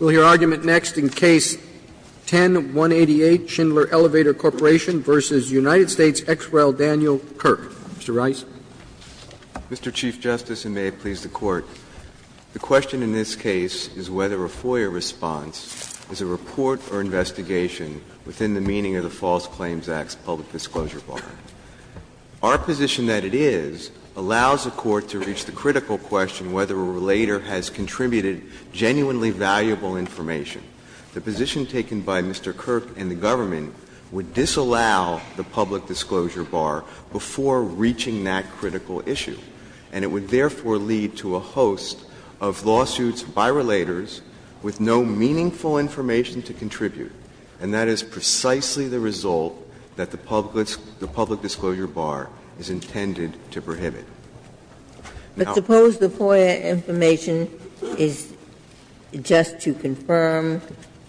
Roberts, and may it please the Court, the question in this case is whether a FOIA response is a report or investigation within the meaning of the False Claims Act's public disclosure bar. Our position that it is allows the Court to reach the critical question whether or not the public disclosure bar is intended to prohibit is that the public disclosure bar is intended to prohibit. The position taken by Mr. Kirk and the government would disallow the public disclosure bar before reaching that critical issue, and it would therefore lead to a host of lawsuits by relators with no meaningful information to contribute, and that is precisely the result that the public disclosure bar is intended to prohibit. Now, I don't think that's the case. Ginsburg. But suppose the FOIA information is just to confirm,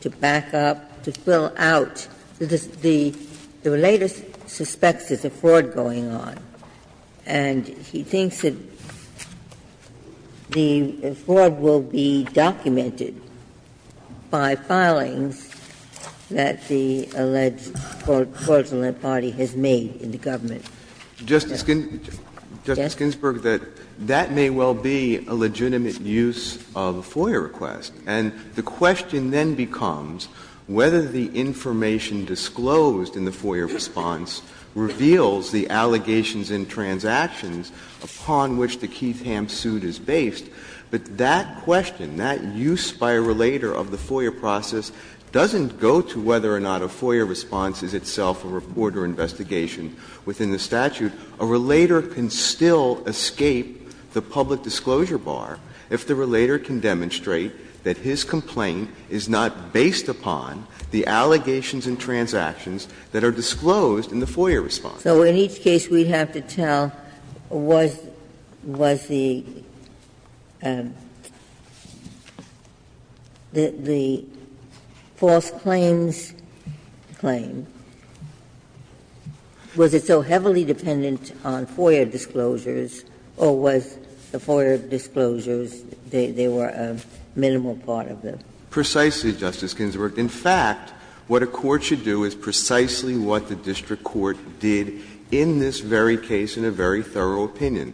to back up, to fill out. The relator suspects there's a fraud going on, and he thinks that the fraud will be documented by filings that the alleged fraudulent party has made in the government. Justice Ginsburg, that may well be a legitimate use of a FOIA request. And the question then becomes whether the information disclosed in the FOIA response reveals the allegations in transactions upon which the Keith-Ham suit is based. But that question, that use by a relator of the FOIA process doesn't go to whether or not a FOIA response is itself a report or investigation within the statute. A relator can still escape the public disclosure bar if the relator can demonstrate that his complaint is not based upon the allegations in transactions that are disclosed in the FOIA response. Ginsburg. So in each case, we have to tell, was the False Claims Claim, was it so heavily dependent on FOIA disclosures, or was the FOIA disclosures, they were a minimal part of the? Precisely, Justice Ginsburg. In fact, what a court should do is precisely what the district court did in this very case in a very thorough opinion.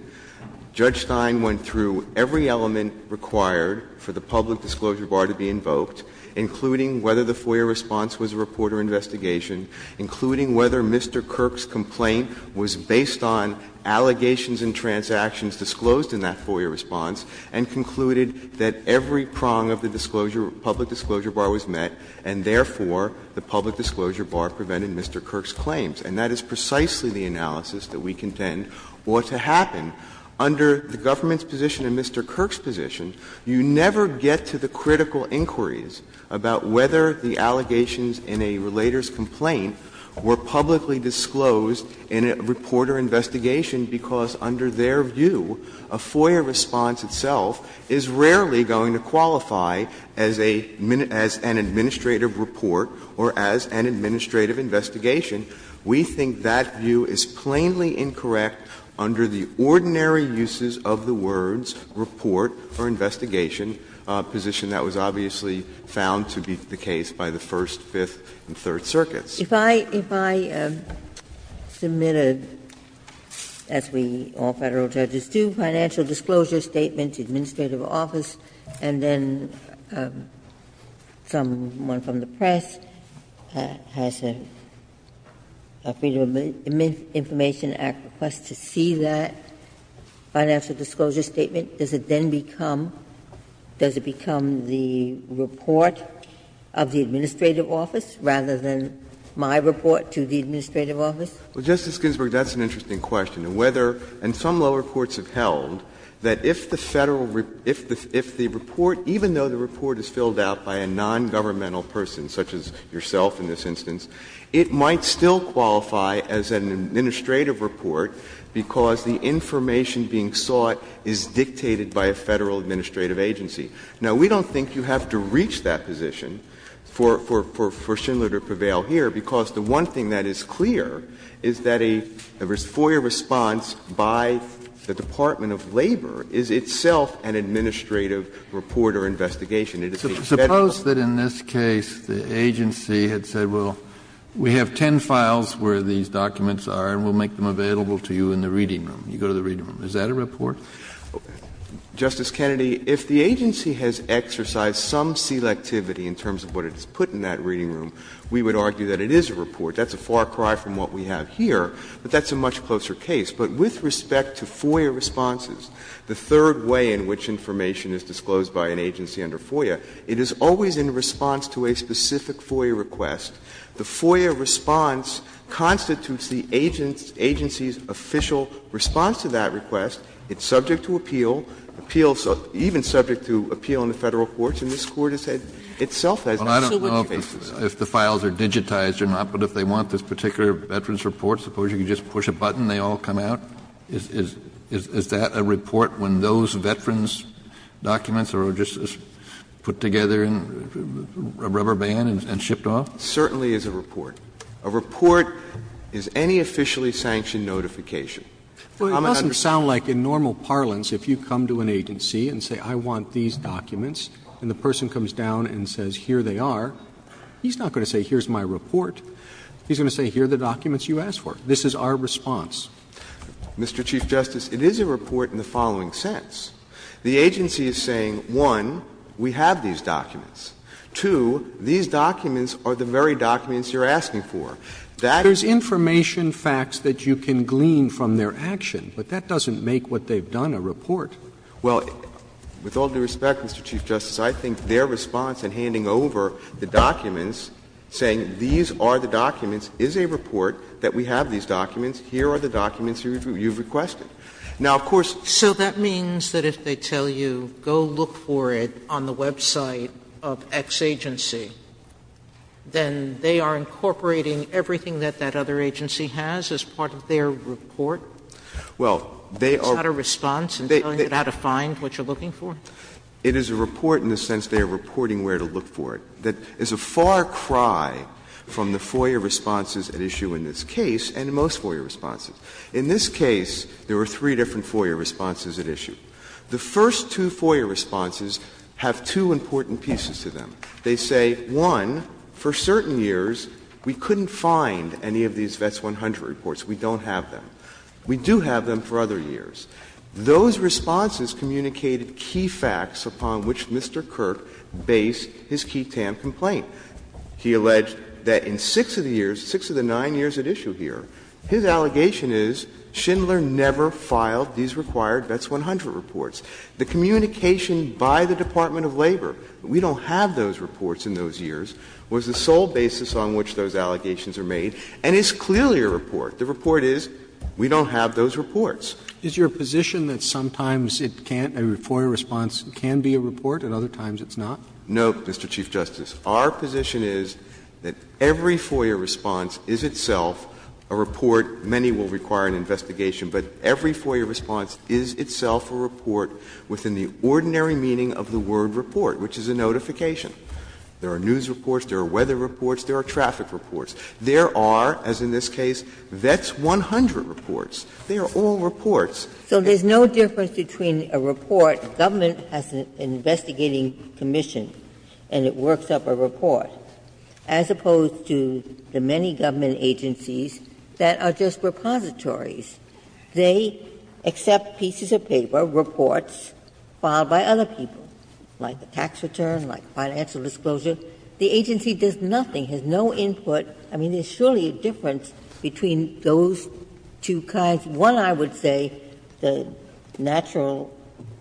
Judge Stein went through every element required for the public disclosure bar to be invoked, including whether the FOIA response was a report or investigation, including whether Mr. Kirk's complaint was based on allegations in transactions disclosed in that FOIA response, and concluded that every prong of the disclosure bar was met, and therefore, the public disclosure bar prevented Mr. Kirk's claims. And that is precisely the analysis that we contend ought to happen. Under the government's position and Mr. Kirk's position, you never get to the critical inquiries about whether the allegations in a relator's complaint were publicly disclosed in a report or investigation, because under their view, a FOIA response itself is rarely going to qualify as a — as an administrative report or as an administrative investigation. We think that view is plainly incorrect under the ordinary uses of the words report or investigation, a position that was obviously found to be the case by the First, Fifth, and Third Circuits. Ginsburg. If I — if I submit a, as we, all Federal judges do, financial disclosure statement to the administrative office, and then someone from the press has a Freedom of Information Act request to see that financial disclosure statement, does it then become — does it become the report of the administrative office rather than my report to the administrative office? Justice Ginsburg, that's an interesting question. Whether — and some lower courts have held that if the Federal — if the report — even though the report is filled out by a nongovernmental person, such as yourself in this instance, it might still qualify as an administrative report because the information being sought is dictated by a Federal administrative agency. Now, we don't think you have to reach that position for — for Schindler to prevail here, because the one thing that is clear is that a FOIA response by the Department of Labor is itself an administrative report or investigation. It is a Federal office. Kennedy. Suppose that in this case the agency had said, well, we have ten files where these documents are and we'll make them available to you in the reading room. You go to the reading room. Is that a report? Justice Kennedy, if the agency has exercised some selectivity in terms of what it's put in that reading room, we would argue that it is a report. That's a far cry from what we have here, but that's a much closer case. But with respect to FOIA responses, the third way in which information is disclosed by an agency under FOIA, it is always in response to a specific FOIA request. The FOIA response constitutes the agency's official response to that request. It's subject to appeal, appeals — even subject to appeal in the Federal courts. And this Court has said itself has absolute basis. Kennedy. Well, I don't know if the files are digitized or not, but if they want this particular veterans report, suppose you could just push a button, they all come out? Is that a report when those veterans' documents are just put together in a rubber band and shipped off? It certainly is a report. A report is any officially sanctioned notification. I'm an understander. Well, it doesn't sound like in normal parlance if you come to an agency and say, I want these documents, and the person comes down and says, here they are, he's not going to say, here's my report. He's going to say, here are the documents you asked for. This is our response. Mr. Chief Justice, it is a report in the following sense. The agency is saying, one, we have these documents. Two, these documents are the very documents you're asking for. That is the very documents you're asking for. There's information facts that you can glean from their action, but that doesn't make what they've done a report. Well, with all due respect, Mr. Chief Justice, I think their response in handing over the documents, saying these are the documents, is a report, that we have these documents, here are the documents you've requested. Now, of course, Sotomayor So that means that if they tell you go look for it on the website of X agency, then they are incorporating everything that that other agency has as part of their report? It's not a response in telling you how to find what you're looking for? It is a report in the sense they are reporting where to look for it. That is a far cry from the FOIA responses at issue in this case and most FOIA responses. In this case, there were three different FOIA responses at issue. The first two FOIA responses have two important pieces to them. They say, one, for certain years we couldn't find any of these Vets 100 reports. We don't have them. We do have them for other years. Those responses communicated key facts upon which Mr. Kirk based his Key Tam complaint. He alleged that in six of the years, six of the nine years at issue here, his allegation is Schindler never filed these required Vets 100 reports. The communication by the Department of Labor, we don't have those reports in those years, was the sole basis on which those allegations are made, and it's clearly a report. The report is, we don't have those reports. Is your position that sometimes it can't, a FOIA response can be a report, and other times it's not? No, Mr. Chief Justice. Our position is that every FOIA response is itself a report. Many will require an investigation, but every FOIA response is itself a report within the ordinary meaning of the word report, which is a notification. There are news reports. There are weather reports. There are traffic reports. There are, as in this case, Vets 100 reports. They are all reports. So there's no difference between a report, the government has an investigating commission, and it works up a report, as opposed to the many government agencies that are just repositories. They accept pieces of paper, reports filed by other people, like a tax return, like financial disclosure. The agency does nothing, has no input. I mean, there's surely a difference between those two kinds. One, I would say, the natural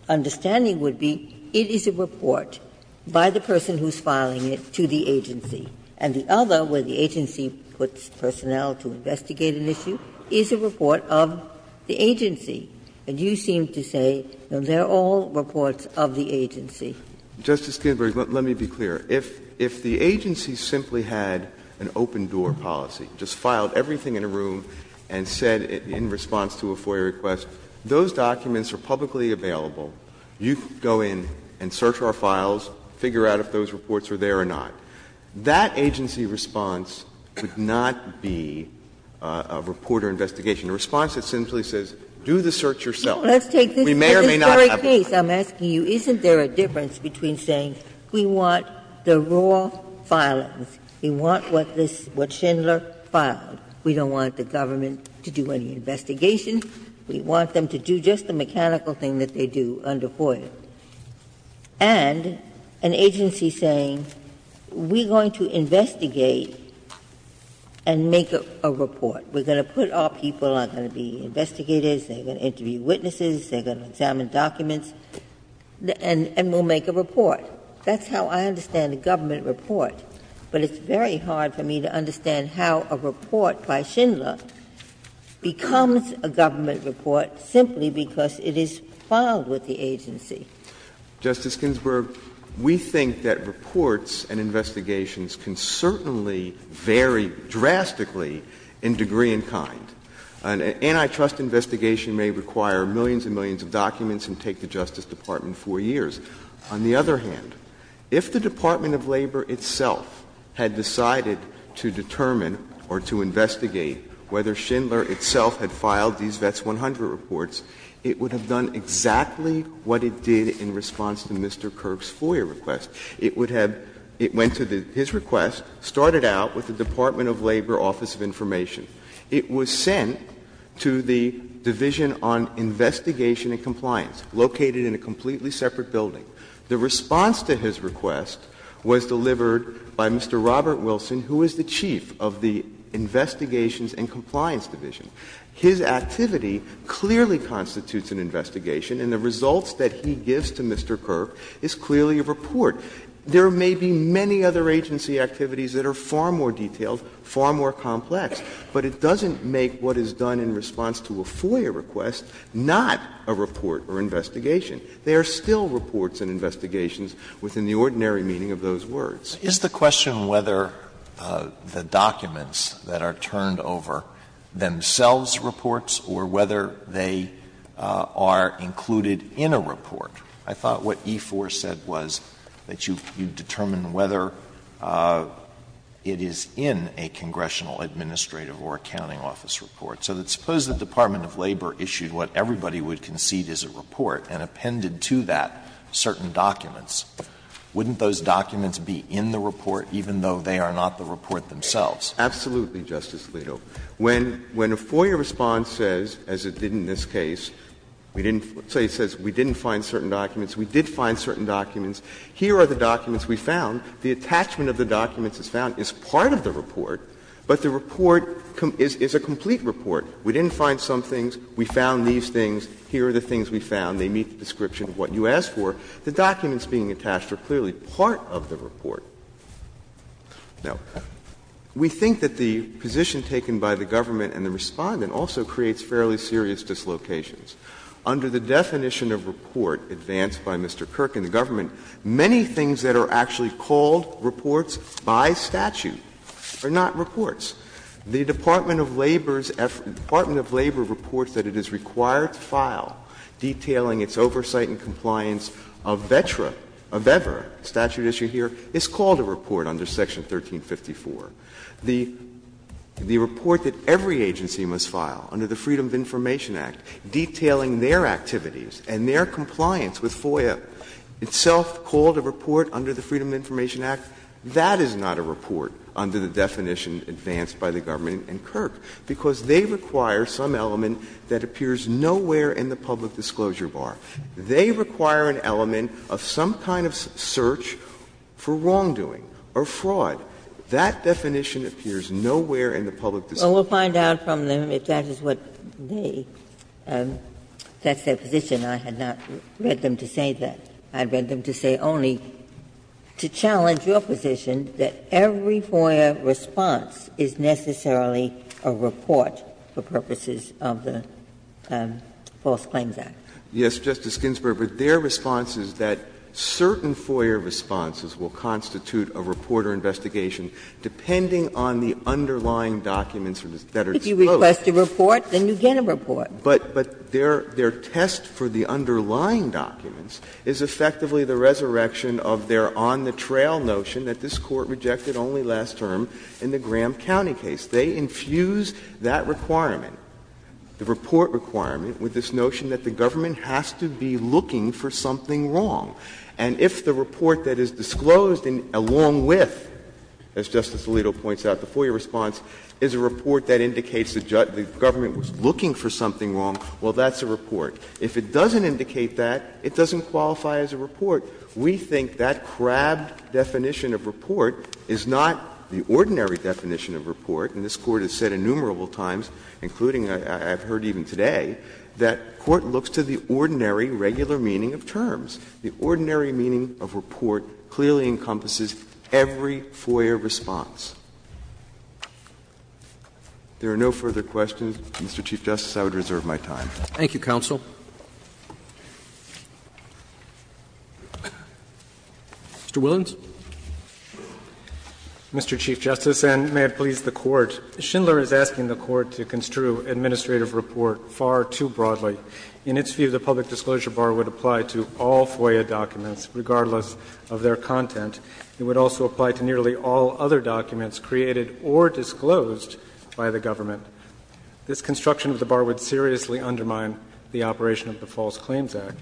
understanding would be, it is a report by the person who's filing it to the agency, and the other, where the agency puts personnel to investigate an issue, is a report of the agency. And you seem to say, no, they're all reports of the agency. Justice Ginsburg, let me be clear. If the agency simply had an open-door policy, just filed everything in a room and said, in response to a FOIA request, those documents are publicly available, you go in and search our files, figure out if those reports are there or not, that agency response would not be a reporter investigation. The response simply says, do the search yourself. We may or may not have a file. Ginsburg. Let's take this very case. I'm asking you, isn't there a difference between saying we want the raw filings, we want what Schindler filed, we don't want the government? We don't want the government to do any investigation, we want them to do just the mechanical thing that they do under FOIA, and an agency saying, we're going to investigate and make a report. We're going to put our people, they're going to be investigators, they're going to interview witnesses, they're going to examine documents, and we'll make a report. That's how I understand a government report, but it's very hard for me to understand how a report by Schindler becomes a government report simply because it is filed with the agency. Justice Ginsburg, we think that reports and investigations can certainly vary drastically in degree and kind. An antitrust investigation may require millions and millions of documents and take the Justice Department 4 years. On the other hand, if the Department of Labor itself had decided to determine or to investigate whether Schindler itself had filed these Vets 100 reports, it would have done exactly what it did in response to Mr. Kirk's FOIA request. It would have — it went to his request, started out with the Department of Labor Office of Information. It was sent to the Division on Investigation and Compliance, located in a completely separate building. The response to his request was delivered by Mr. Robert Wilson, who is the chief of the Investigations and Compliance Division. His activity clearly constitutes an investigation, and the results that he gives to Mr. Kirk is clearly a report. There may be many other agency activities that are far more detailed, far more complex, but it doesn't make what is done in response to a FOIA request not a report or investigation. They are still reports and investigations within the ordinary meaning of those Alitoso, is the question whether the documents that are turned over themselves reports or whether they are included in a report? I thought what E-4 said was that you determine whether it is in a congressional administrative or accounting office report. So suppose the Department of Labor issued what everybody would concede is a report, and appended to that certain documents. Wouldn't those documents be in the report, even though they are not the report themselves? Absolutely, Justice Alito. When a FOIA response says, as it did in this case, we didn't find certain documents, we did find certain documents, here are the documents we found. The attachment of the documents is found as part of the report, but the report is a complete report. We didn't find some things. We found these things. Here are the things we found. They meet the description of what you asked for. The documents being attached are clearly part of the report. Now, we think that the position taken by the government and the Respondent also creates fairly serious dislocations. Under the definition of report advanced by Mr. Kirk and the government, many things that are actually called reports by statute are not reports. The Department of Labor's effort to the Department of Labor reports that it is required to file, detailing its oversight and compliance of VETRA, of EVRA, statute issue here, is called a report under Section 1354. The report that every agency must file under the Freedom of Information Act, detailing their activities and their compliance with FOIA, itself called a report under the Freedom of Information Act, that is not a report under the definition advanced by the government and Kirk, because they require some element that appears nowhere in the public disclosure bar. They require an element of some kind of search for wrongdoing or fraud. That definition appears nowhere in the public disclosure bar. Ginsburg Well, we'll find out from them if that is what they, that's their position. I had not read them to say that. I read them to say only to challenge your position that every FOIA response is necessarily a report for purposes of the False Claims Act. Kennedy Yes, Justice Ginsburg, but their response is that certain FOIA responses will constitute a report or investigation depending on the underlying documents that are disclosed. Ginsburg If you request a report, then you get a report. But their test for the underlying documents is effectively the resurrection of their on-the-trail notion that this Court rejected only last term in the Graham County case. They infuse that requirement, the report requirement, with this notion that the government has to be looking for something wrong. And if the report that is disclosed along with, as Justice Alito points out, the FOIA response is a report that indicates the government was looking for something wrong, well, that's a report. If it doesn't indicate that, it doesn't qualify as a report. We think that crabbed definition of report is not the ordinary definition of report. And this Court has said innumerable times, including I've heard even today, that court looks to the ordinary regular meaning of terms. The ordinary meaning of report clearly encompasses every FOIA response. If there are no further questions, Mr. Chief Justice, I would reserve my time. Roberts Thank you, counsel. Mr. Willens. Willens Mr. Chief Justice, and may it please the Court, Schindler is asking the Court to construe administrative report far too broadly. In its view, the public disclosure bar would apply to all FOIA documents, regardless of their content. It would also apply to nearly all other documents created or disclosed by the government. This construction of the bar would seriously undermine the operation of the False Claims Act.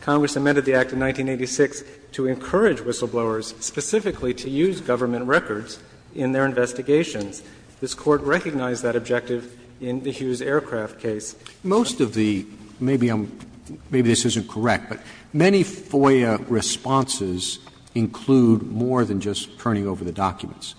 Congress amended the Act of 1986 to encourage whistleblowers specifically to use government records in their investigations. This Court recognized that objective in the Hughes Aircraft case. Roberts Most of the – maybe I'm – maybe this isn't correct, but many FOIA responses include more than just turning over the documents.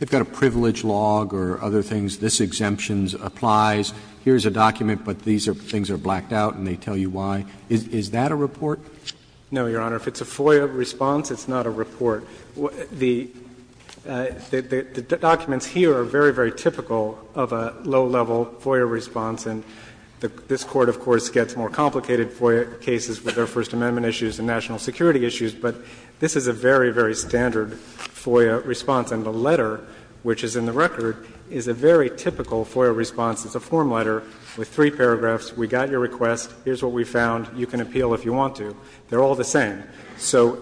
They've got a privilege log or other things, this exemption applies, here's a document, but these are things that are blacked out and they tell you why. Is that a report? Willens No, Your Honor. If it's a FOIA response, it's not a report. The documents here are very, very typical of a low-level FOIA response. And this Court, of course, gets more complicated FOIA cases with their First Amendment issues and national security issues, but this is a very, very standard FOIA response. And the letter, which is in the record, is a very typical FOIA response. It's a form letter with three paragraphs, we got your request, here's what we found, you can appeal if you want to. They're all the same. So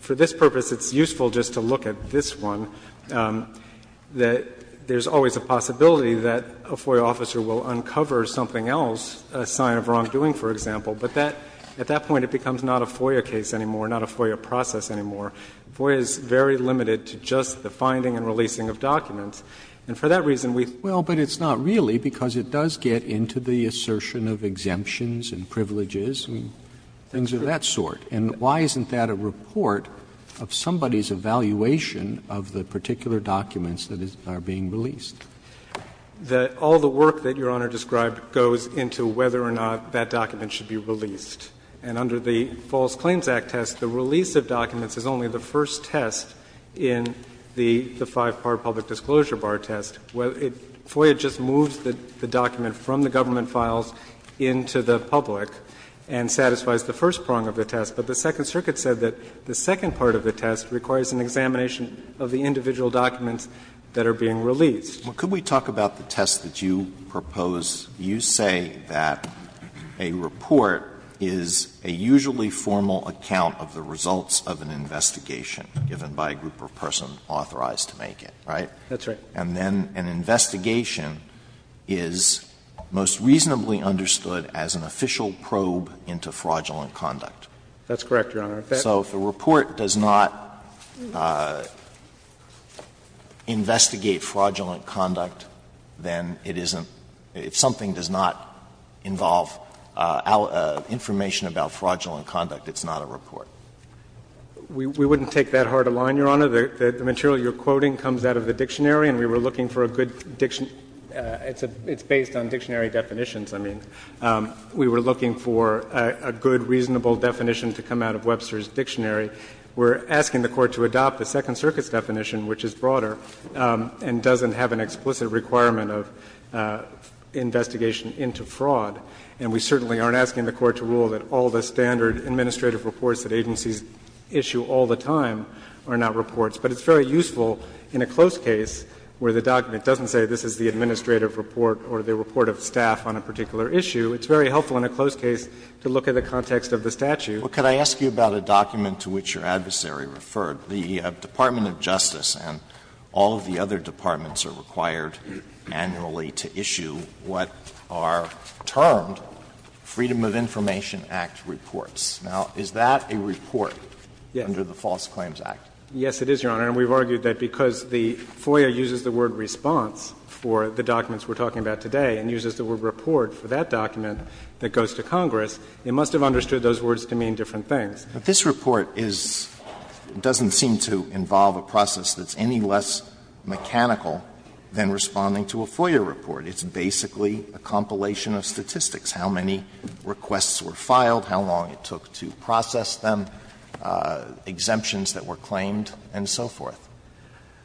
for this purpose, it's useful just to look at this one, that there's always a possibility that a FOIA officer will uncover something else, a sign of wrongdoing, for example. But that, at that point, it becomes not a FOIA case anymore, not a FOIA process anymore. FOIA is very limited to just the finding and releasing of documents. And for that reason, we think that this is a very typical FOIA response. Roberts, but it's not really, because it does get into the assertion of exemptions and privileges and things of that sort. And why isn't that a report of somebody's evaluation of the particular documents that are being released? That all the work that Your Honor described goes into whether or not that document should be released. And under the False Claims Act test, the release of documents is only the first test in the five-part public disclosure bar test. FOIA just moves the document from the government files into the public and satisfies the first prong of the test. But the Second Circuit said that the second part of the test requires an examination of the individual documents that are being released. Alito, could we talk about the test that you propose? You say that a report is a usually formal account of the results of an investigation given by a group or person authorized to make it, right? That's right. And then an investigation is most reasonably understood as an official probe into fraudulent conduct. That's correct, Your Honor. So if a report does not investigate fraudulent conduct, then it isn't — if something does not involve information about fraudulent conduct, it's not a report. We wouldn't take that hard a line, Your Honor. The material you're quoting comes out of the dictionary, and we were looking for a good dictionary — it's based on dictionary definitions, I mean. We were looking for a good, reasonable definition to come out of Webster's dictionary. We're asking the Court to adopt the Second Circuit's definition, which is broader, and doesn't have an explicit requirement of investigation into fraud. And we certainly aren't asking the Court to rule that all the standard administrative reports that agencies issue all the time are not reports. But it's very useful in a close case where the document doesn't say this is the administrative report or the report of staff on a particular issue. It's very helpful in a close case to look at the context of the statute. Alitoso, what could I ask you about a document to which your adversary referred? The Department of Justice and all of the other departments are required annually to issue what are termed Freedom of Information Act reports. Now, is that a report under the False Claims Act? Yes, it is, Your Honor. And we've argued that because the FOIA uses the word response for the documents we're talking about today and uses the word report for that document that goes to Congress, it must have understood those words to mean different things. This report is — doesn't seem to involve a process that's any less mechanical than responding to a FOIA report. It's basically a compilation of statistics, how many requests were filed, how long it took to process them, exemptions that were claimed, and so forth.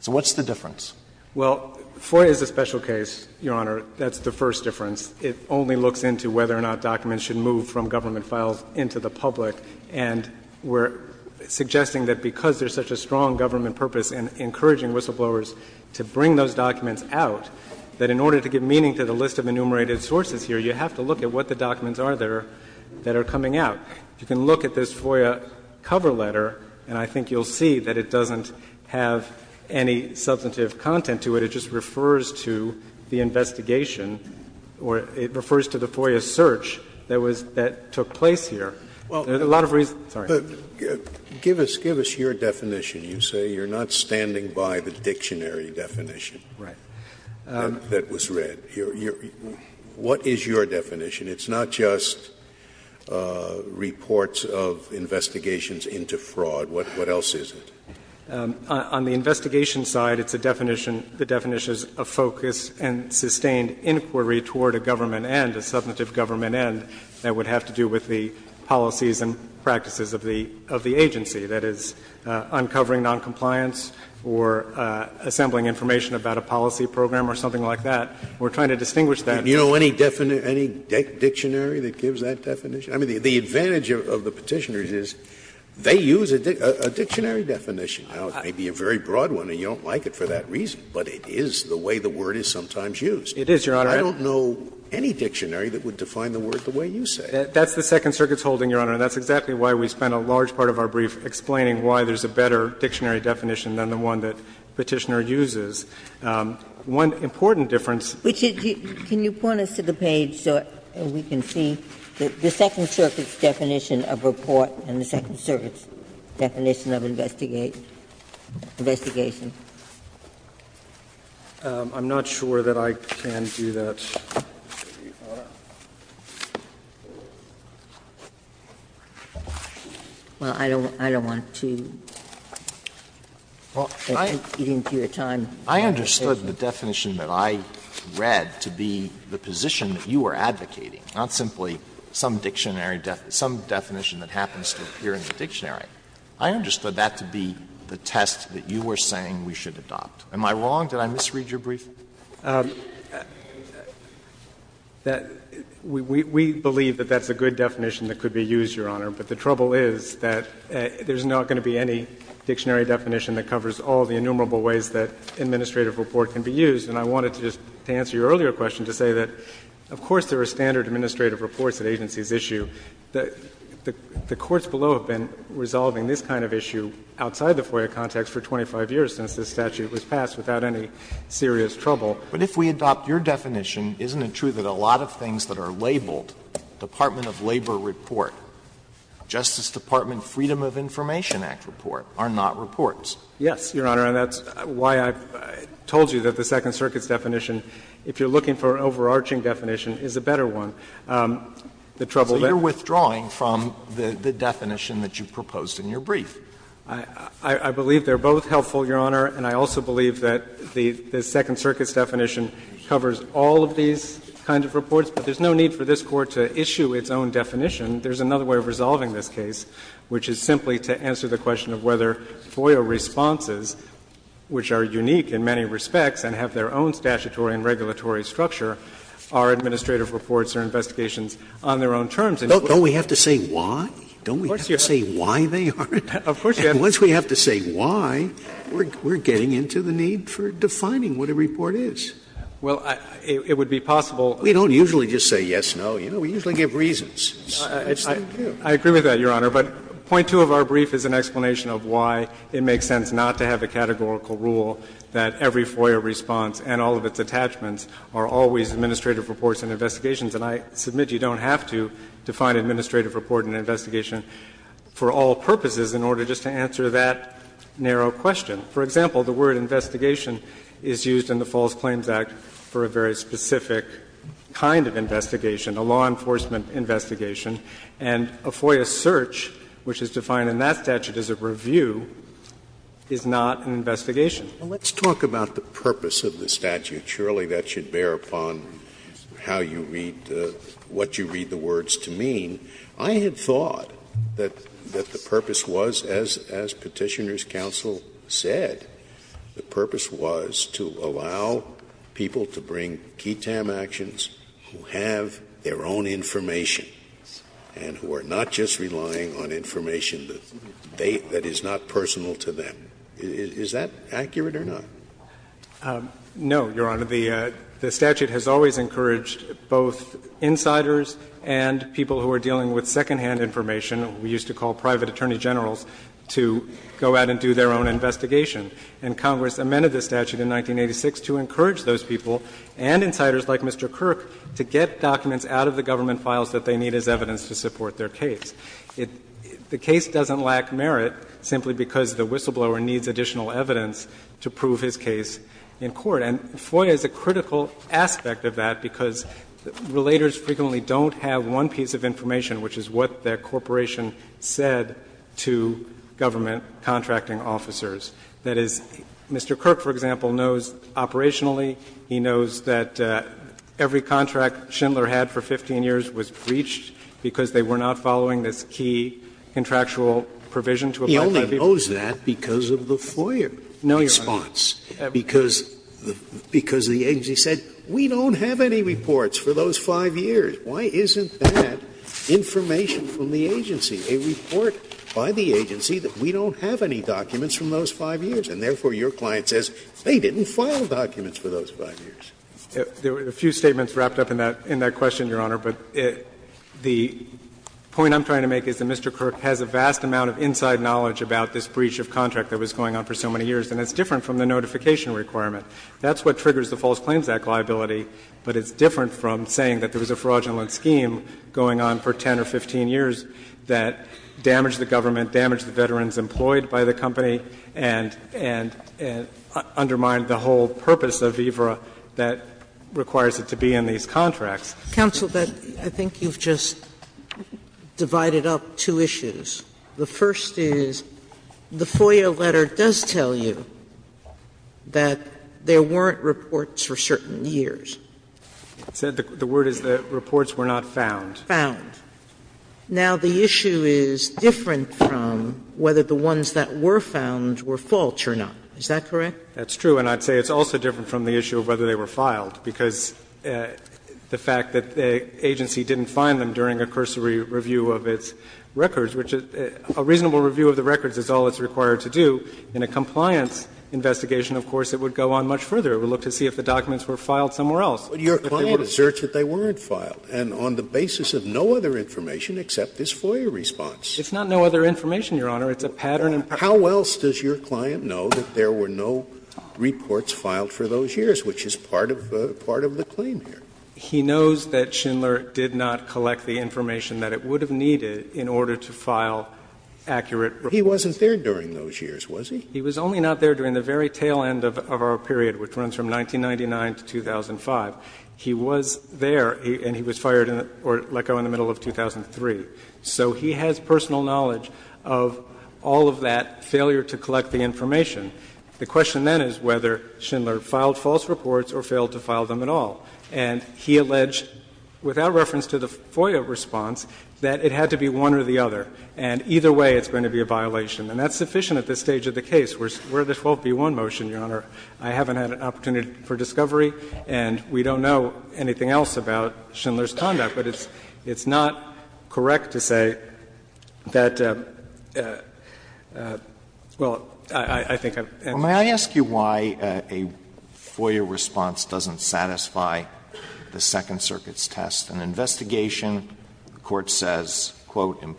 So what's the difference? Well, FOIA is a special case, Your Honor. That's the first difference. It only looks into whether or not documents should move from government files into the public. And we're suggesting that because there's such a strong government purpose in encouraging whistleblowers to bring those documents out, that in order to give meaning to the list of enumerated sources here, you have to look at what the documents are there that are coming out. You can look at this FOIA cover letter, and I think you'll see that it doesn't have any substantive content to it. It just refers to the investigation or it refers to the FOIA search that was — that took place here. There are a lot of reasons — sorry. Scalia, give us your definition. You say you're not standing by the dictionary definition that was read here. What is your definition? It's not just reports of investigations into fraud. What else is it? On the investigation side, it's a definition — the definition is a focus and sustained inquiry toward a government end, a substantive government end that would have to do with the policies and practices of the agency, that is, uncovering noncompliance or assembling information about a policy program or something like that. We're trying to distinguish that. Do you know any dictionary that gives that definition? I mean, the advantage of the Petitioners is they use a dictionary definition. Now, it may be a very broad one and you don't like it for that reason, but it is the way the word is sometimes used. It is, Your Honor. I don't know any dictionary that would define the word the way you say it. That's the Second Circuit's holding, Your Honor, and that's exactly why we spent a large part of our brief explaining why there's a better dictionary definition than the one that Petitioner uses. One important difference. Ginsburg-McGillivray Can you point us to the page so we can see the Second Circuit's definition of report and the Second Circuit's definition of investigation? Verrilli, I'm not sure that I can do that, Your Honor. Ginsburg-McGillivray Well, I don't want to eat into your time. I understood the definition that I read to be the position that you were advocating, not simply some dictionary definition, some definition that happens to appear in the dictionary. I understood that to be the test that you were saying we should adopt. Am I wrong? Did I misread your brief? Verrilli, We believe that that's a good definition that could be used, Your Honor. But the trouble is that there's not going to be any dictionary definition that covers all the innumerable ways that administrative report can be used. And I wanted to just answer your earlier question to say that, of course, there are standard administrative reports at agencies' issue. The courts below have been resolving this kind of issue outside the FOIA context for 25 years since this statute was passed without any serious trouble. Alito But if we adopt your definition, isn't it true that a lot of things that are labeled Department of Labor report, Justice Department Freedom of Information Act report, are not reports? Verrilli, Yes. Your Honor, and that's why I've told you that the Second Circuit's definition, if you're looking for an overarching definition, is a better one. The trouble that Alito So you're withdrawing from the definition that you proposed in your brief. Verrilli, I believe they're both helpful, Your Honor. And I also believe that the Second Circuit's definition covers all of these kinds of reports. But there's no need for this Court to issue its own definition. There's another way of resolving this case, which is simply to answer the question of whether FOIA responses, which are unique in many respects and have their own statutory and regulatory structure, are administrative reports or investigations on their own terms. Sotomayor Don't we have to say why? Don't we have to say why they are? Verrilli, Of course, Your Honor. Sotomayor And once we have to say why, we're getting into the need for defining what a report is. Verrilli, Well, it would be possible. Sotomayor We don't usually just say yes, no. You know, we usually give reasons. Verrilli, I agree with that, Your Honor. But point two of our brief is an explanation of why it makes sense not to have a categorical rule that every FOIA response and all of its attachments are always administrative reports and investigations. And I submit you don't have to define administrative report and investigation for all purposes in order just to answer that narrow question. For example, the word investigation is used in the False Claims Act for a very specific kind of investigation, a law enforcement investigation. And a FOIA search, which is defined in that statute as a review, is not an investigation. Scalia, Well, let's talk about the purpose of the statute. Surely that should bear upon how you read, what you read the words to mean. I had thought that the purpose was, as Petitioner's counsel said, the purpose was to allow people to bring KETAM actions who have their own information. And who are not just relying on information that they — that is not personal to them. Is that accurate or not? Verrilli, No, Your Honor. The statute has always encouraged both insiders and people who are dealing with second-hand information. We used to call private attorney generals to go out and do their own investigation. And Congress amended the statute in 1986 to encourage those people and insiders like Mr. Kirk to get documents out of the government files that they need as evidence to support their case. The case doesn't lack merit simply because the whistleblower needs additional evidence to prove his case in court. And FOIA is a critical aspect of that because relators frequently don't have one piece of information, which is what the corporation said to government contracting officers. That is, Mr. Kirk, for example, knows operationally. He knows that every contract Schindler had for 15 years was breached because they were not following this key contractual provision to apply to that people. He only knows that because of the FOIA response, because the agency said, we don't have any reports for those 5 years. Why isn't that information from the agency, a report by the agency that we don't have any documents from those 5 years, and therefore your client says they didn't file documents for those 5 years? There were a few statements wrapped up in that question, Your Honor. But the point I'm trying to make is that Mr. Kirk has a vast amount of inside knowledge about this breach of contract that was going on for so many years, and it's different from the notification requirement. That's what triggers the False Claims Act liability, but it's different from saying that there was a fraudulent scheme going on for 10 or 15 years that damaged the government, damaged the veterans employed by the company, and undermined the whole purpose of EVRA that requires it to be in these contracts. Sotomayor, I think you've just divided up two issues. The first is the FOIA letter does tell you that there weren't reports for certain years. The word is that reports were not found. Found. Now, the issue is different from whether the ones that were found were false or not. Is that correct? That's true. And I'd say it's also different from the issue of whether they were filed, because the fact that the agency didn't find them during a cursory review of its records, which a reasonable review of the records is all it's required to do. In a compliance investigation, of course, it would go on much further. It would look to see if the documents were filed somewhere else. But your client asserts that they weren't filed. And on the basis of no other information except this FOIA response. It's not no other information, Your Honor. It's a pattern in practice. How else does your client know that there were no reports filed for those years, which is part of the claim here? He knows that Schindler did not collect the information that it would have needed in order to file accurate reports. He wasn't there during those years, was he? He was only not there during the very tail end of our period, which runs from 1999 to 2005. He was there and he was fired or let go in the middle of 2003. So he has personal knowledge of all of that failure to collect the information. The question then is whether Schindler filed false reports or failed to file them at all. And he alleged, without reference to the FOIA response, that it had to be one or the other, and either way it's going to be a violation. And that's sufficient at this stage of the case. We're at the 12b1 motion, Your Honor. I haven't had an opportunity for discovery, and we don't know anything else about Schindler's conduct, but it's not correct to say that, well, I think I've answered. Alito, may I ask you why a FOIA response doesn't satisfy the Second Circuit's test? An investigation, the Court says, quote, Now,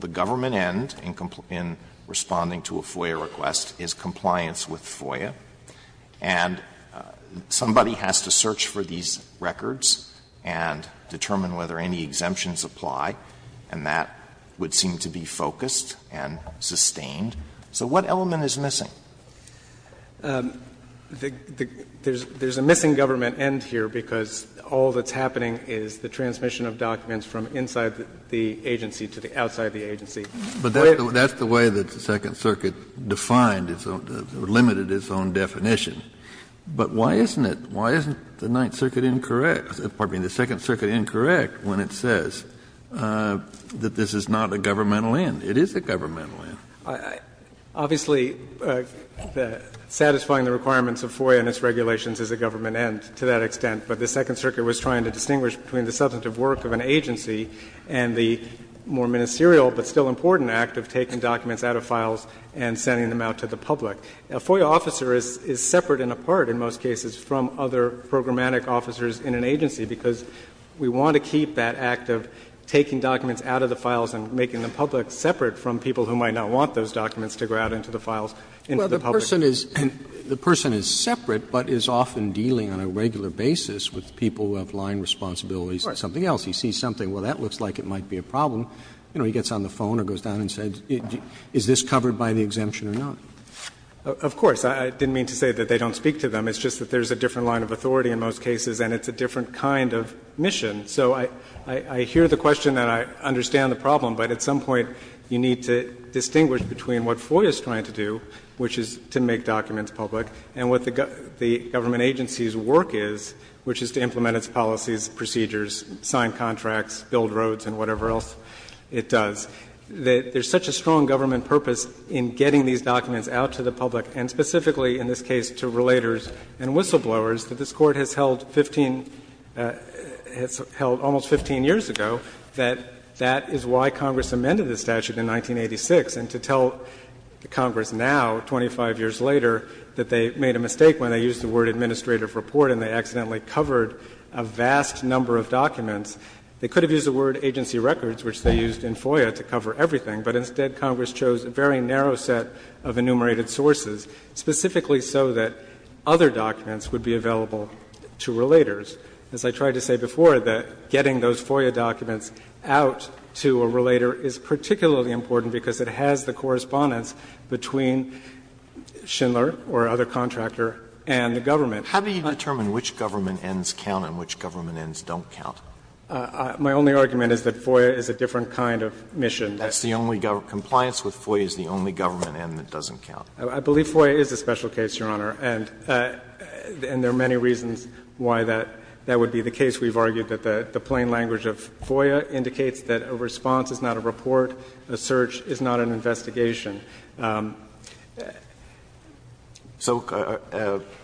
the government end in responding to a FOIA request is compliance with FOIA. And somebody has to search for these records and determine whether any exemptions apply, and that would seem to be focused and sustained. So what element is missing? There's a missing government end here because all that's happening is the transmission of documents from inside the agency to the outside of the agency. Kennedy, but that's the way that the Second Circuit defined, limited its own definition. But why isn't it, why isn't the Ninth Circuit incorrect, pardon me, the Second Circuit incorrect when it says that this is not a governmental end? It is a governmental end. Obviously, satisfying the requirements of FOIA and its regulations is a government end to that extent, but the Second Circuit was trying to distinguish between the substantive work of an agency and the more ministerial but still important act of taking documents out of files and sending them out to the public. A FOIA officer is separate and apart in most cases from other programmatic officers in an agency because we want to keep that act of taking documents out of the files, we want those documents to go out into the files, into the public. Roberts, the person is separate, but is often dealing on a regular basis with people who have line responsibilities to something else. He sees something, well, that looks like it might be a problem, you know, he gets on the phone or goes down and says, is this covered by the exemption or not? Of course. I didn't mean to say that they don't speak to them. It's just that there's a different line of authority in most cases and it's a different kind of mission. So I hear the question and I understand the problem, but at some point you need to distinguish between what FOIA is trying to do, which is to make documents public, and what the government agency's work is, which is to implement its policies, procedures, sign contracts, build roads and whatever else it does. There's such a strong government purpose in getting these documents out to the public and specifically in this case to relators and whistleblowers that this Court has held 15 — has held almost 15 years ago that that is why Congress amended the statute in 1986 and to tell Congress now, 25 years later, that they made a mistake when they used the word administrative report and they accidentally covered a vast number of documents. They could have used the word agency records, which they used in FOIA to cover everything, but instead Congress chose a very narrow set of enumerated sources, specifically so that other documents would be available to relators. As I tried to say before, that getting those FOIA documents out to a relator is particularly important because it has the correspondence between Schindler or other contractor and the government. Alito, how do you determine which government ends count and which government ends don't count? My only argument is that FOIA is a different kind of mission. That's the only — compliance with FOIA is the only government end that doesn't count. I believe FOIA is a special case, Your Honor, and there are many reasons why that would be the case. We've argued that the plain language of FOIA indicates that a response is not a report, a search is not an investigation. Alito,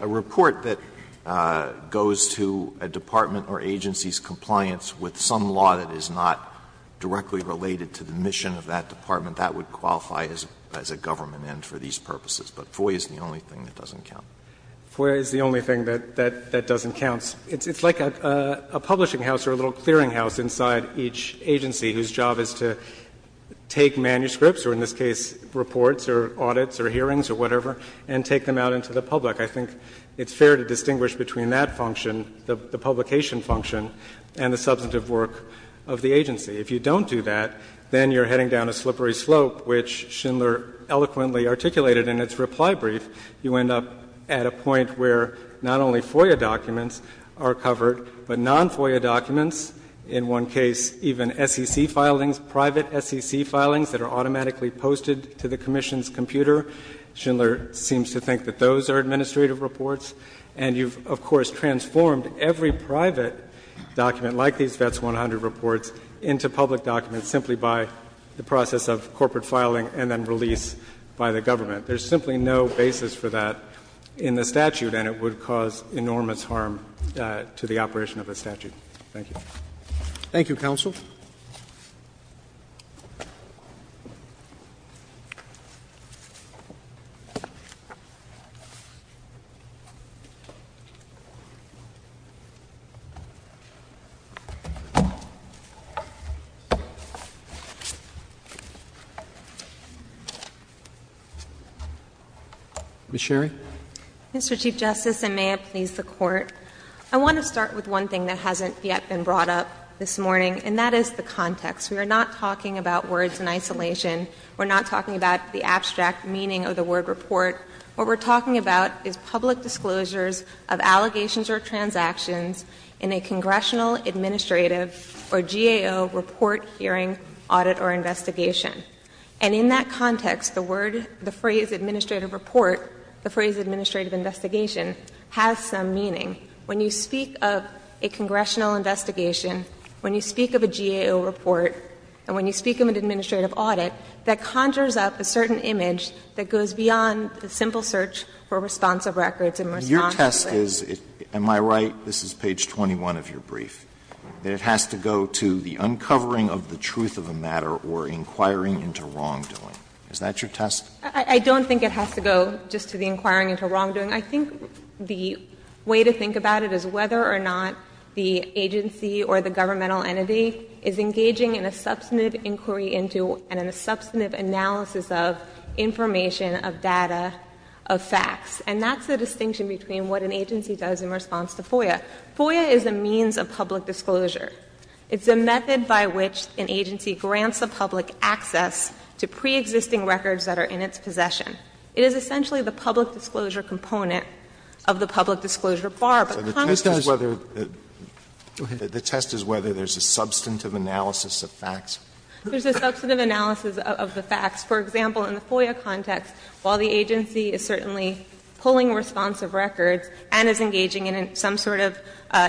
a report that goes to a department or agency's compliance with some law that is not directly related to the mission of that department, that would qualify as a government end for these purposes, but FOIA is the only thing that doesn't count. FOIA is the only thing that doesn't count. It's like a publishing house or a little clearinghouse inside each agency whose job is to take manuscripts, or in this case reports or audits or hearings or whatever, and take them out into the public. I think it's fair to distinguish between that function, the publication function, and the substantive work of the agency. If you don't do that, then you're heading down a slippery slope, which Schindler eloquently articulated in its reply brief. You end up at a point where not only FOIA documents are covered, but non-FOIA documents, in one case even SEC filings, private SEC filings that are automatically posted to the commission's computer. Schindler seems to think that those are administrative reports. And you've, of course, transformed every private document, like these VETS 100 reports, into public documents simply by the process of corporate filing and then release by the government. There's simply no basis for that in the statute, and it would cause enormous harm to the operation of a statute. Thank you. Roberts. Ms. Sherry. Ms. Sherry. Mr. Chief Justice, and may it please the Court. I want to start with one thing that hasn't yet been brought up this morning, and that is the context. We are not talking about words in isolation. We're not talking about the abstract meaning of the word report. What we're talking about is public disclosures of allegations or transactions in a congressional, administrative, or GAO report, hearing, audit, or investigation. And in that context, the word, the phrase administrative report, the phrase administrative investigation, has some meaning. When you speak of a congressional investigation, when you speak of a GAO report, and when you speak of an administrative audit, that conjures up a certain image that goes beyond the simple search for responsive records and response to it. And your test is, am I right, this is page 21 of your brief, that it has to go to the uncovering of the truth of a matter or inquiring into wrongdoing. Is that your test? I don't think it has to go just to the inquiring into wrongdoing. I think the way to think about it is whether or not the agency or the governmental entity is engaging in a substantive inquiry into and in a substantive analysis of information, of data, of facts. And that's the distinction between what an agency does in response to FOIA. FOIA is a means of public disclosure. It's a method by which an agency grants a public access to preexisting records that are in its possession. It is essentially the public disclosure component of the public disclosure bar, but Congress does not. Alito, the test is whether there's a substantive analysis of facts. There's a substantive analysis of the facts. For example, in the FOIA context, while the agency is certainly pulling responsive records and is engaging in some sort of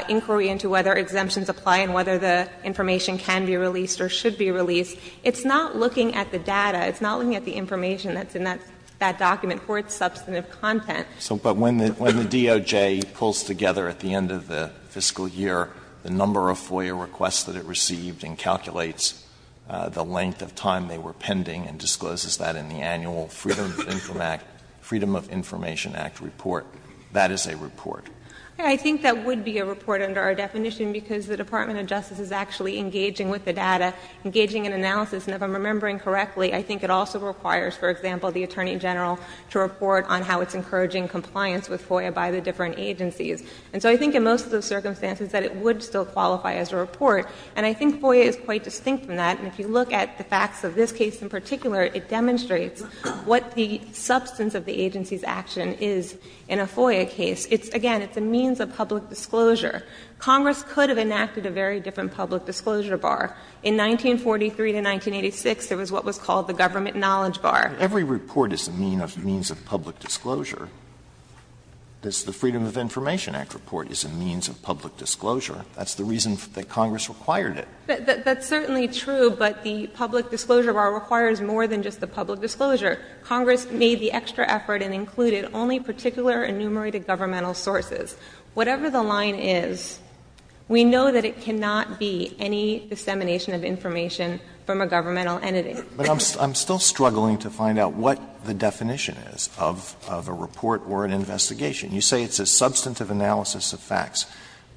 inquiry into whether exemptions apply and whether the information can be released or should be released, it's not looking at the data. It's not looking at the information that's in that document for its substantive content. Alito, but when the DOJ pulls together at the end of the fiscal year the number of FOIA requests that it received and calculates the length of time they were pending and discloses that in the annual Freedom of Information Act report, that is a report. I think that would be a report under our definition because the Department of Justice is actually engaging with the data, engaging in analysis. And if I'm remembering correctly, I think it also requires, for example, the Attorney General to report on how it's encouraging compliance with FOIA by the different agencies. And so I think in most of those circumstances that it would still qualify as a report. And I think FOIA is quite distinct from that. And if you look at the facts of this case in particular, it demonstrates what the substance of the agency's action is in a FOIA case. It's, again, it's a means of public disclosure. Congress could have enacted a very different public disclosure bar. In 1943 to 1986, there was what was called the government knowledge bar. Alitoson Every report is a means of public disclosure. The Freedom of Information Act report is a means of public disclosure. That's the reason that Congress required it. Sherry That's certainly true, but the public disclosure bar requires more than just the public disclosure. Congress made the extra effort and included only particular enumerated governmental sources. Whatever the line is, we know that it cannot be any dissemination of information from a governmental entity. Alitoson But I'm still struggling to find out what the definition is of a report or an investigation. You say it's a substantive analysis of facts.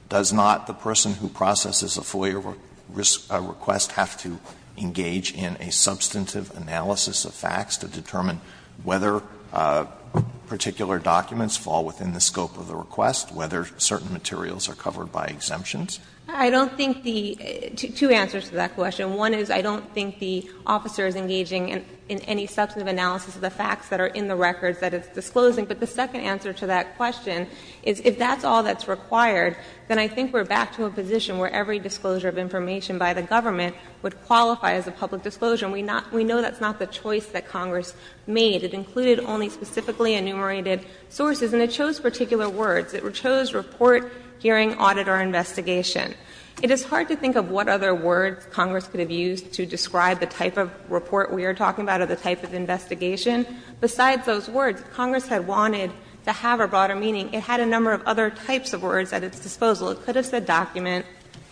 Does not the person who processes a FOIA request have to engage in a substantive analysis of facts to determine whether particular documents fall within the scope of the request, whether certain materials are covered by exemptions? Sherry I don't think the — two answers to that question. One is I don't think the officer is engaging in any substantive analysis of the facts that are in the records that it's disclosing. But the second answer to that question is if that's all that's required, then I think we're back to a position where every disclosure of information by the government would qualify as a public disclosure. And we know that's not the choice that Congress made. It included only specifically enumerated sources. And it chose particular words. It chose report, hearing, audit, or investigation. It is hard to think of what other words Congress could have used to describe the type of report we are talking about or the type of investigation. Besides those words, Congress had wanted to have a broader meaning. It had a number of other types of words at its disposal. It could have said document,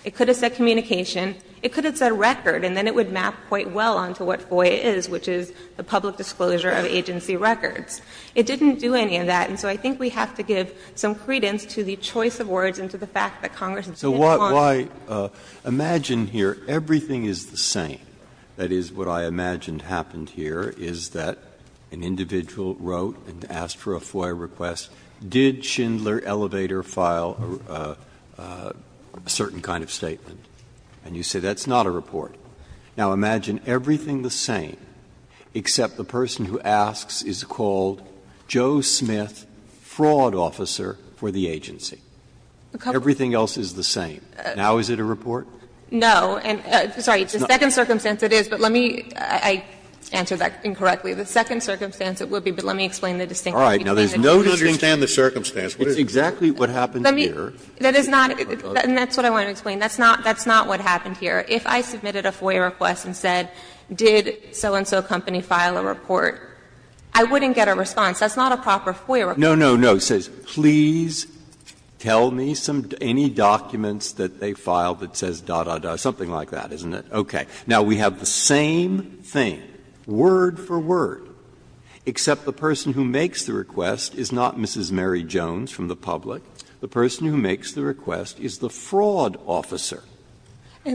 it could have said communication, it could have said record, and then it would map quite well onto what FOIA is, which is the public disclosure of agency records. It didn't do any of that. And so I think we have to give some credence to the choice of words and to the fact that Congress has been wanting to do that. Breyer, imagine here everything is the same. That is, what I imagined happened here is that an individual wrote and asked for a FOIA request, did Schindler Elevator file a certain kind of statement? And you say that's not a report. Now, imagine everything the same, except the person who asks is called Joe Smith and that's a fraud officer for the agency. Everything else is the same. Now, is it a report? No, and sorry, the second circumstance it is, but let me, I answered that incorrectly. The second circumstance it would be, but let me explain the distinction. All right. Now, there's no distinction. You don't understand the circumstance. It's exactly what happened here. Let me, that is not, and that's what I want to explain. That's not, that's not what happened here. If I submitted a FOIA request and said, did so-and-so company file a report, I wouldn't get a response. That's not a proper FOIA request. Breyer. Breyer. No, no, no. It says, please tell me some, any documents that they filed that says da, da, da, something like that, isn't it? Okay. Now, we have the same thing, word for word, except the person who makes the request is not Mrs. Mary Jones from the public. The person who makes the request is the fraud officer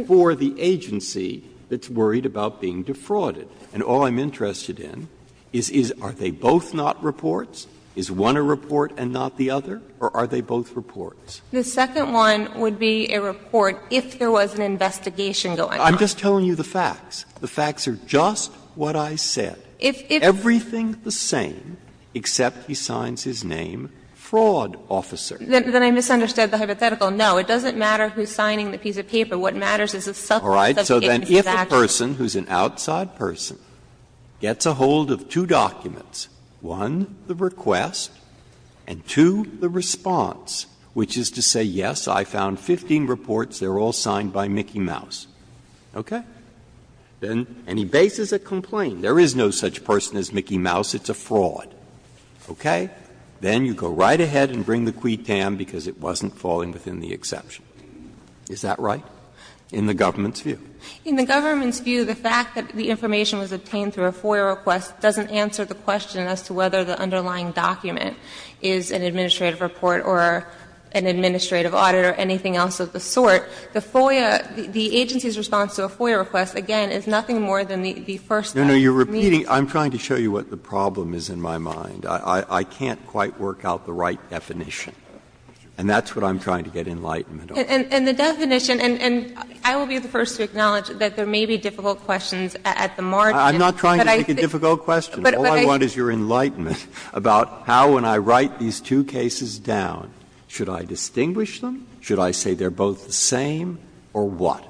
for the agency that's worried about being defrauded. And all I'm interested in is, is, are they both not reports? Is one a report and not the other, or are they both reports? The second one would be a report if there was an investigation going on. I'm just telling you the facts. The facts are just what I said. If, if. Everything the same, except he signs his name fraud officer. Then I misunderstood the hypothetical. No. What matters is the subject of the agency's action. All right. So then if a person who's an outside person gets a hold of two documents, one, the request, and two, the response, which is to say, yes, I found 15 reports, they're all signed by Mickey Mouse, okay, then any basis of complaint, there is no such person as Mickey Mouse, it's a fraud, okay, then you go right ahead and bring the quid tam because it wasn't falling within the exception. Is that right in the government's view? In the government's view, the fact that the information was obtained through a FOIA request doesn't answer the question as to whether the underlying document is an administrative report or an administrative audit or anything else of the sort. The FOIA, the agency's response to a FOIA request, again, is nothing more than the first step. No, no, you're repeating. I'm trying to show you what the problem is in my mind. I can't quite work out the right definition. And that's what I'm trying to get enlightenment on. And the definition, and I will be the first to acknowledge that there may be difficult questions at the margin. I'm not trying to make a difficult question. All I want is your enlightenment about how, when I write these two cases down, should I distinguish them, should I say they're both the same, or what?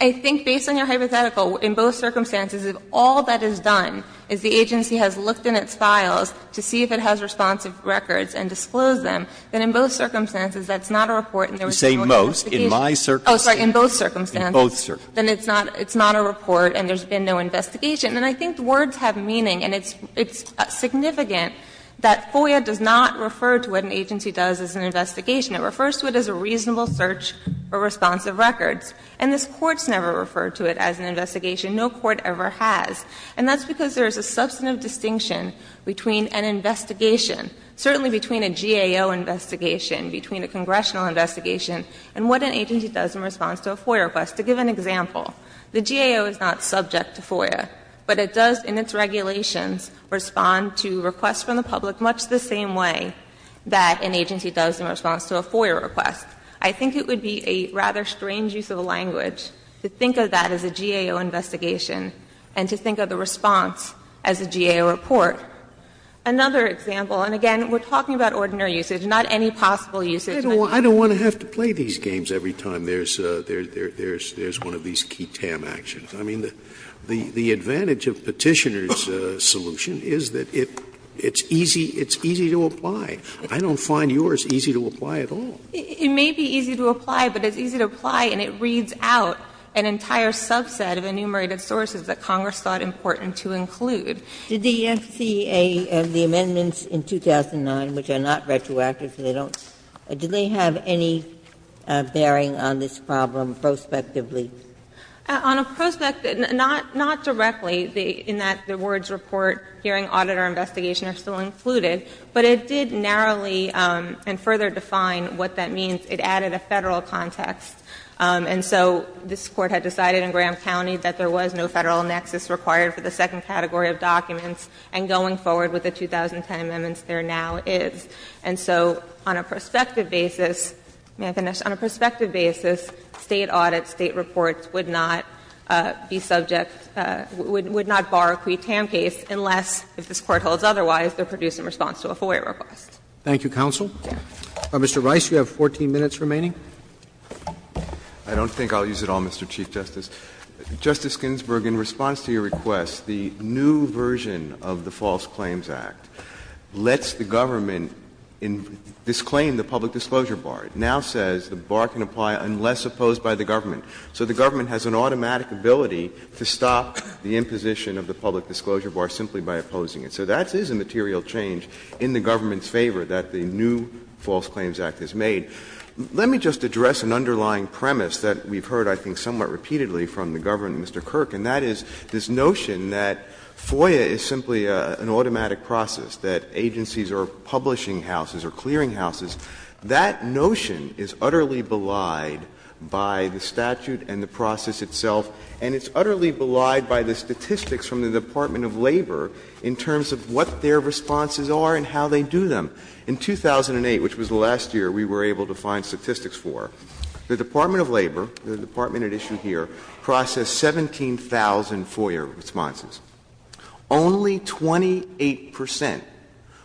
I think, based on your hypothetical, in both circumstances, if all that is done is the agency has looked in its files to see if it has responsive records and disclosed them, then in both circumstances, that's not a report in the original document. If I say most, in my circumstance, in both circumstances, then it's not a report and there's been no investigation. And I think the words have meaning, and it's significant that FOIA does not refer to what an agency does as an investigation. It refers to it as a reasonable search for responsive records. And this Court's never referred to it as an investigation. No court ever has. And that's because there is a substantive distinction between an investigation, certainly between a GAO investigation, between a congressional investigation, and what an agency does in response to a FOIA request. To give an example, the GAO is not subject to FOIA, but it does, in its regulations, respond to requests from the public much the same way that an agency does in response to a FOIA request. I think it would be a rather strange use of language to think of that as a GAO investigation and to think of the response as a GAO report. Another example, and again, we're talking about ordinary usage, not any possible usage. Scalia, I don't want to have to play these games every time there's one of these key TAM actions. I mean, the advantage of Petitioner's solution is that it's easy to apply. I don't find yours easy to apply at all. It may be easy to apply, but it's easy to apply and it reads out an entire subset of enumerated sources that Congress thought important to include. Ginsburg. Did the FCA, the amendments in 2009, which are not retroactive, so they don't do they have any bearing on this problem prospectively? On a prospectively, not directly, in that the words report, hearing, audit, or investigation are still included, but it did narrowly and further define what that means. It added a Federal context, and so this Court had decided in Graham County that there was no Federal nexus required for the second category of documents, and going forward with the 2010 amendments, there now is. And so on a prospective basis, may I finish? On a prospective basis, State audits, State reports, would not be subject to, would not bar a pre-TAM case unless, if this Court holds otherwise, they're produced in response to a FOIA request. Thank you, counsel. Mr. Rice, you have 14 minutes remaining. I don't think I'll use it all, Mr. Chief Justice. Justice Ginsburg, in response to your request, the new version of the False Claims Act lets the government disclaim the public disclosure bar. It now says the bar can apply unless opposed by the government. So the government has an automatic ability to stop the imposition of the public disclosure bar simply by opposing it. So that is a material change in the government's favor that the new False Claims Act has made. Let me just address an underlying premise that we've heard, I think, somewhat repeatedly from the government, Mr. Kirk, and that is this notion that FOIA is simply an automatic process, that agencies are publishing houses or clearinghouses. That notion is utterly belied by the statute and the process itself, and it's utterly belied by the statistics from the Department of Labor in terms of what their responses are and how they do them. In 2008, which was the last year we were able to find statistics for, the Department of Labor, the department at issue here, processed 17,000 FOIA responses. Only 28 percent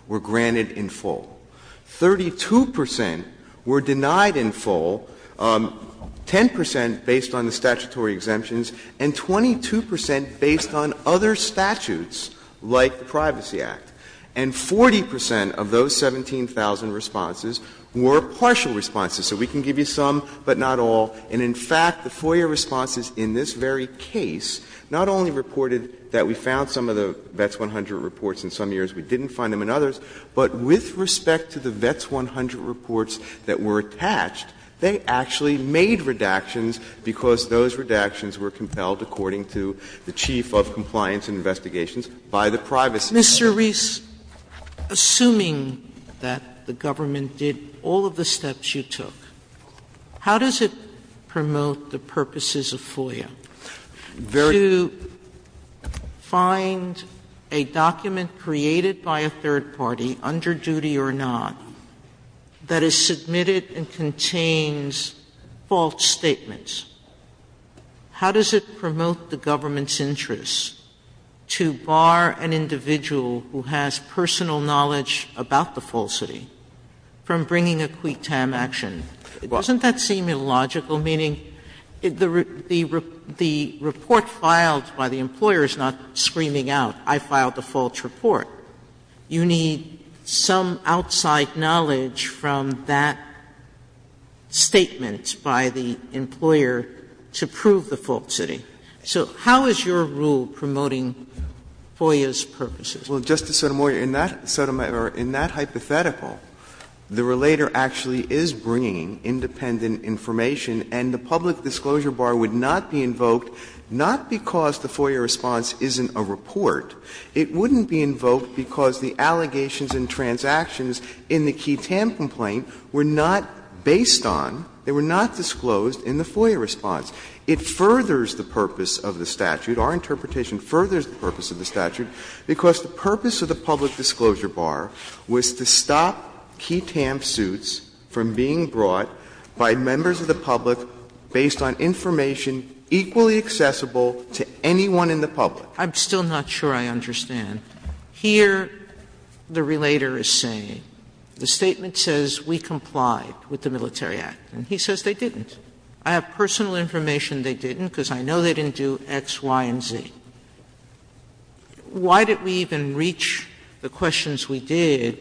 were granted in full. 32 percent were denied in full, 10 percent based on the statutory exemptions, and 22 percent based on other statutes like the Privacy Act. And 40 percent of those 17,000 responses were partial responses. So we can give you some, but not all. And in fact, the FOIA responses in this very case not only reported that we found some of the VETS 100 reports in some years, we didn't find them in others, but with respect to the VETS 100 reports that were attached, they actually made redactions because those redactions were compelled, according to the chief of compliance and investigations, by the privacy. Sotomayor, Mr. Reese, assuming that the government did all of the steps you took, how does it promote the purposes of FOIA? To find a document created by a third party, underduty or not, that is submitted and contains false statements, how does it promote the government's interests to bar an individual who has personal knowledge about the falsity from bringing a QUICTAM action? Doesn't that seem illogical, meaning the report filed by the employer is not screaming out, I filed a false report. You need some outside knowledge from that statement by the employer to prove the falsity. So how is your rule promoting FOIA's purposes? Well, Justice Sotomayor, in that hypothetical, the relator actually is bringing independent information, and the public disclosure bar would not be invoked, not because the FOIA response isn't a report. It wouldn't be invoked because the allegations and transactions in the QUICTAM complaint were not based on, they were not disclosed in the FOIA response. It furthers the purpose of the statute. Our interpretation furthers the purpose of the statute, because the purpose of the public disclosure bar was to stop QUICTAM suits from being brought by members of the public based on information equally accessible to anyone in the public. I'm still not sure I understand. Here the relator is saying, the statement says we complied with the Military Act, and he says they didn't. I have personal information they didn't, because I know they didn't do X, Y, and Z. Why did we even reach the questions we did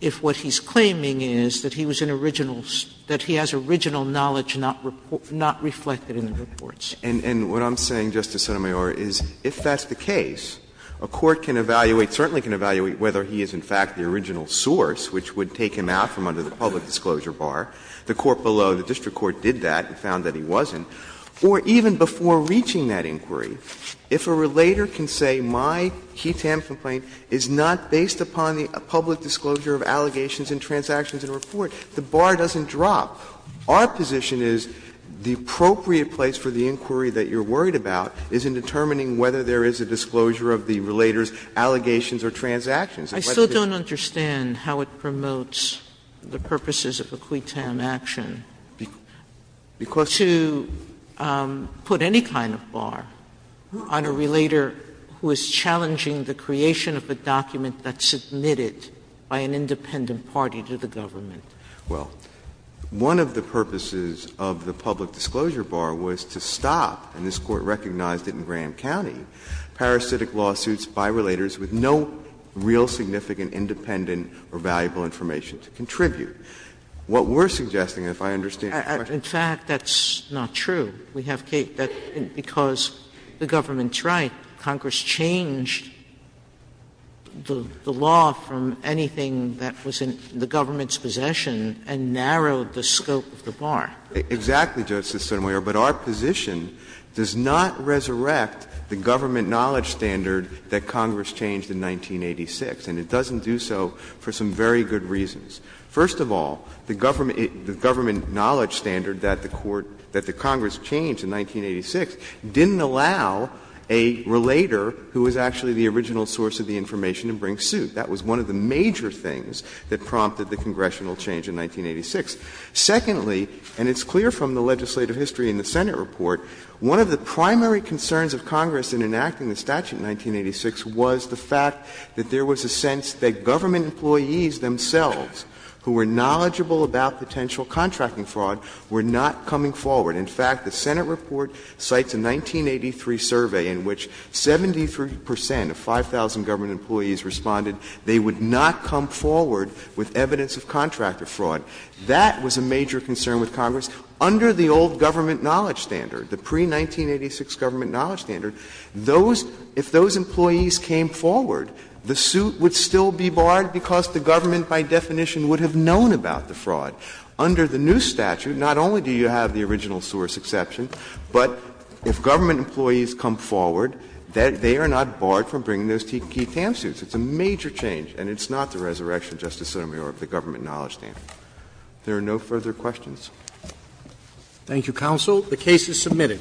if what he's claiming is that he was an original, that he has original knowledge not reflected in the reports? And what I'm saying, Justice Sotomayor, is if that's the case, a court can evaluate, certainly can evaluate whether he is in fact the original source which would take him out from under the public disclosure bar. The court below, the district court, did that and found that he wasn't. Or even before reaching that inquiry, if a relator can say my QUICTAM complaint is not based upon the public disclosure of allegations and transactions in a report, the bar doesn't drop. Our position is the appropriate place for the inquiry that you're worried about is in determining whether there is a disclosure of the relator's allegations or transactions. Sotomayor, I still don't understand how it promotes the purposes of a QUICTAM action to put any kind of bar on a relator who is challenging the creation of a document that's submitted by an independent party to the government. Well, one of the purposes of the public disclosure bar was to stop, and this Court independent or valuable information to contribute. What we're suggesting, if I understand your question. Sotomayor, in fact, that's not true. We have case that because the government's right, Congress changed the law from anything that was in the government's possession and narrowed the scope of the bar. Exactly, Justice Sotomayor, but our position does not resurrect the government knowledge standard that Congress changed in 1986, and it doesn't do so for some very good reasons. First of all, the government knowledge standard that the Court, that the Congress changed in 1986 didn't allow a relator who was actually the original source of the information to bring suit. That was one of the major things that prompted the congressional change in 1986. Secondly, and it's clear from the legislative history in the Senate report, one of the major concerns in the statute in 1986 was the fact that there was a sense that government employees themselves who were knowledgeable about potential contracting fraud were not coming forward. In fact, the Senate report cites a 1983 survey in which 73 percent of 5,000 government employees responded they would not come forward with evidence of contractor fraud. That was a major concern with Congress. Under the old government knowledge standard, the pre-1986 government knowledge standard, those — if those employees came forward, the suit would still be barred because the government, by definition, would have known about the fraud. Under the new statute, not only do you have the original source exception, but if government employees come forward, they are not barred from bringing those key TAM suits. It's a major change, and it's not the resurrection, Justice Sotomayor, of the government knowledge standard. If there are no further questions. Roberts. Thank you, counsel. The case is submitted.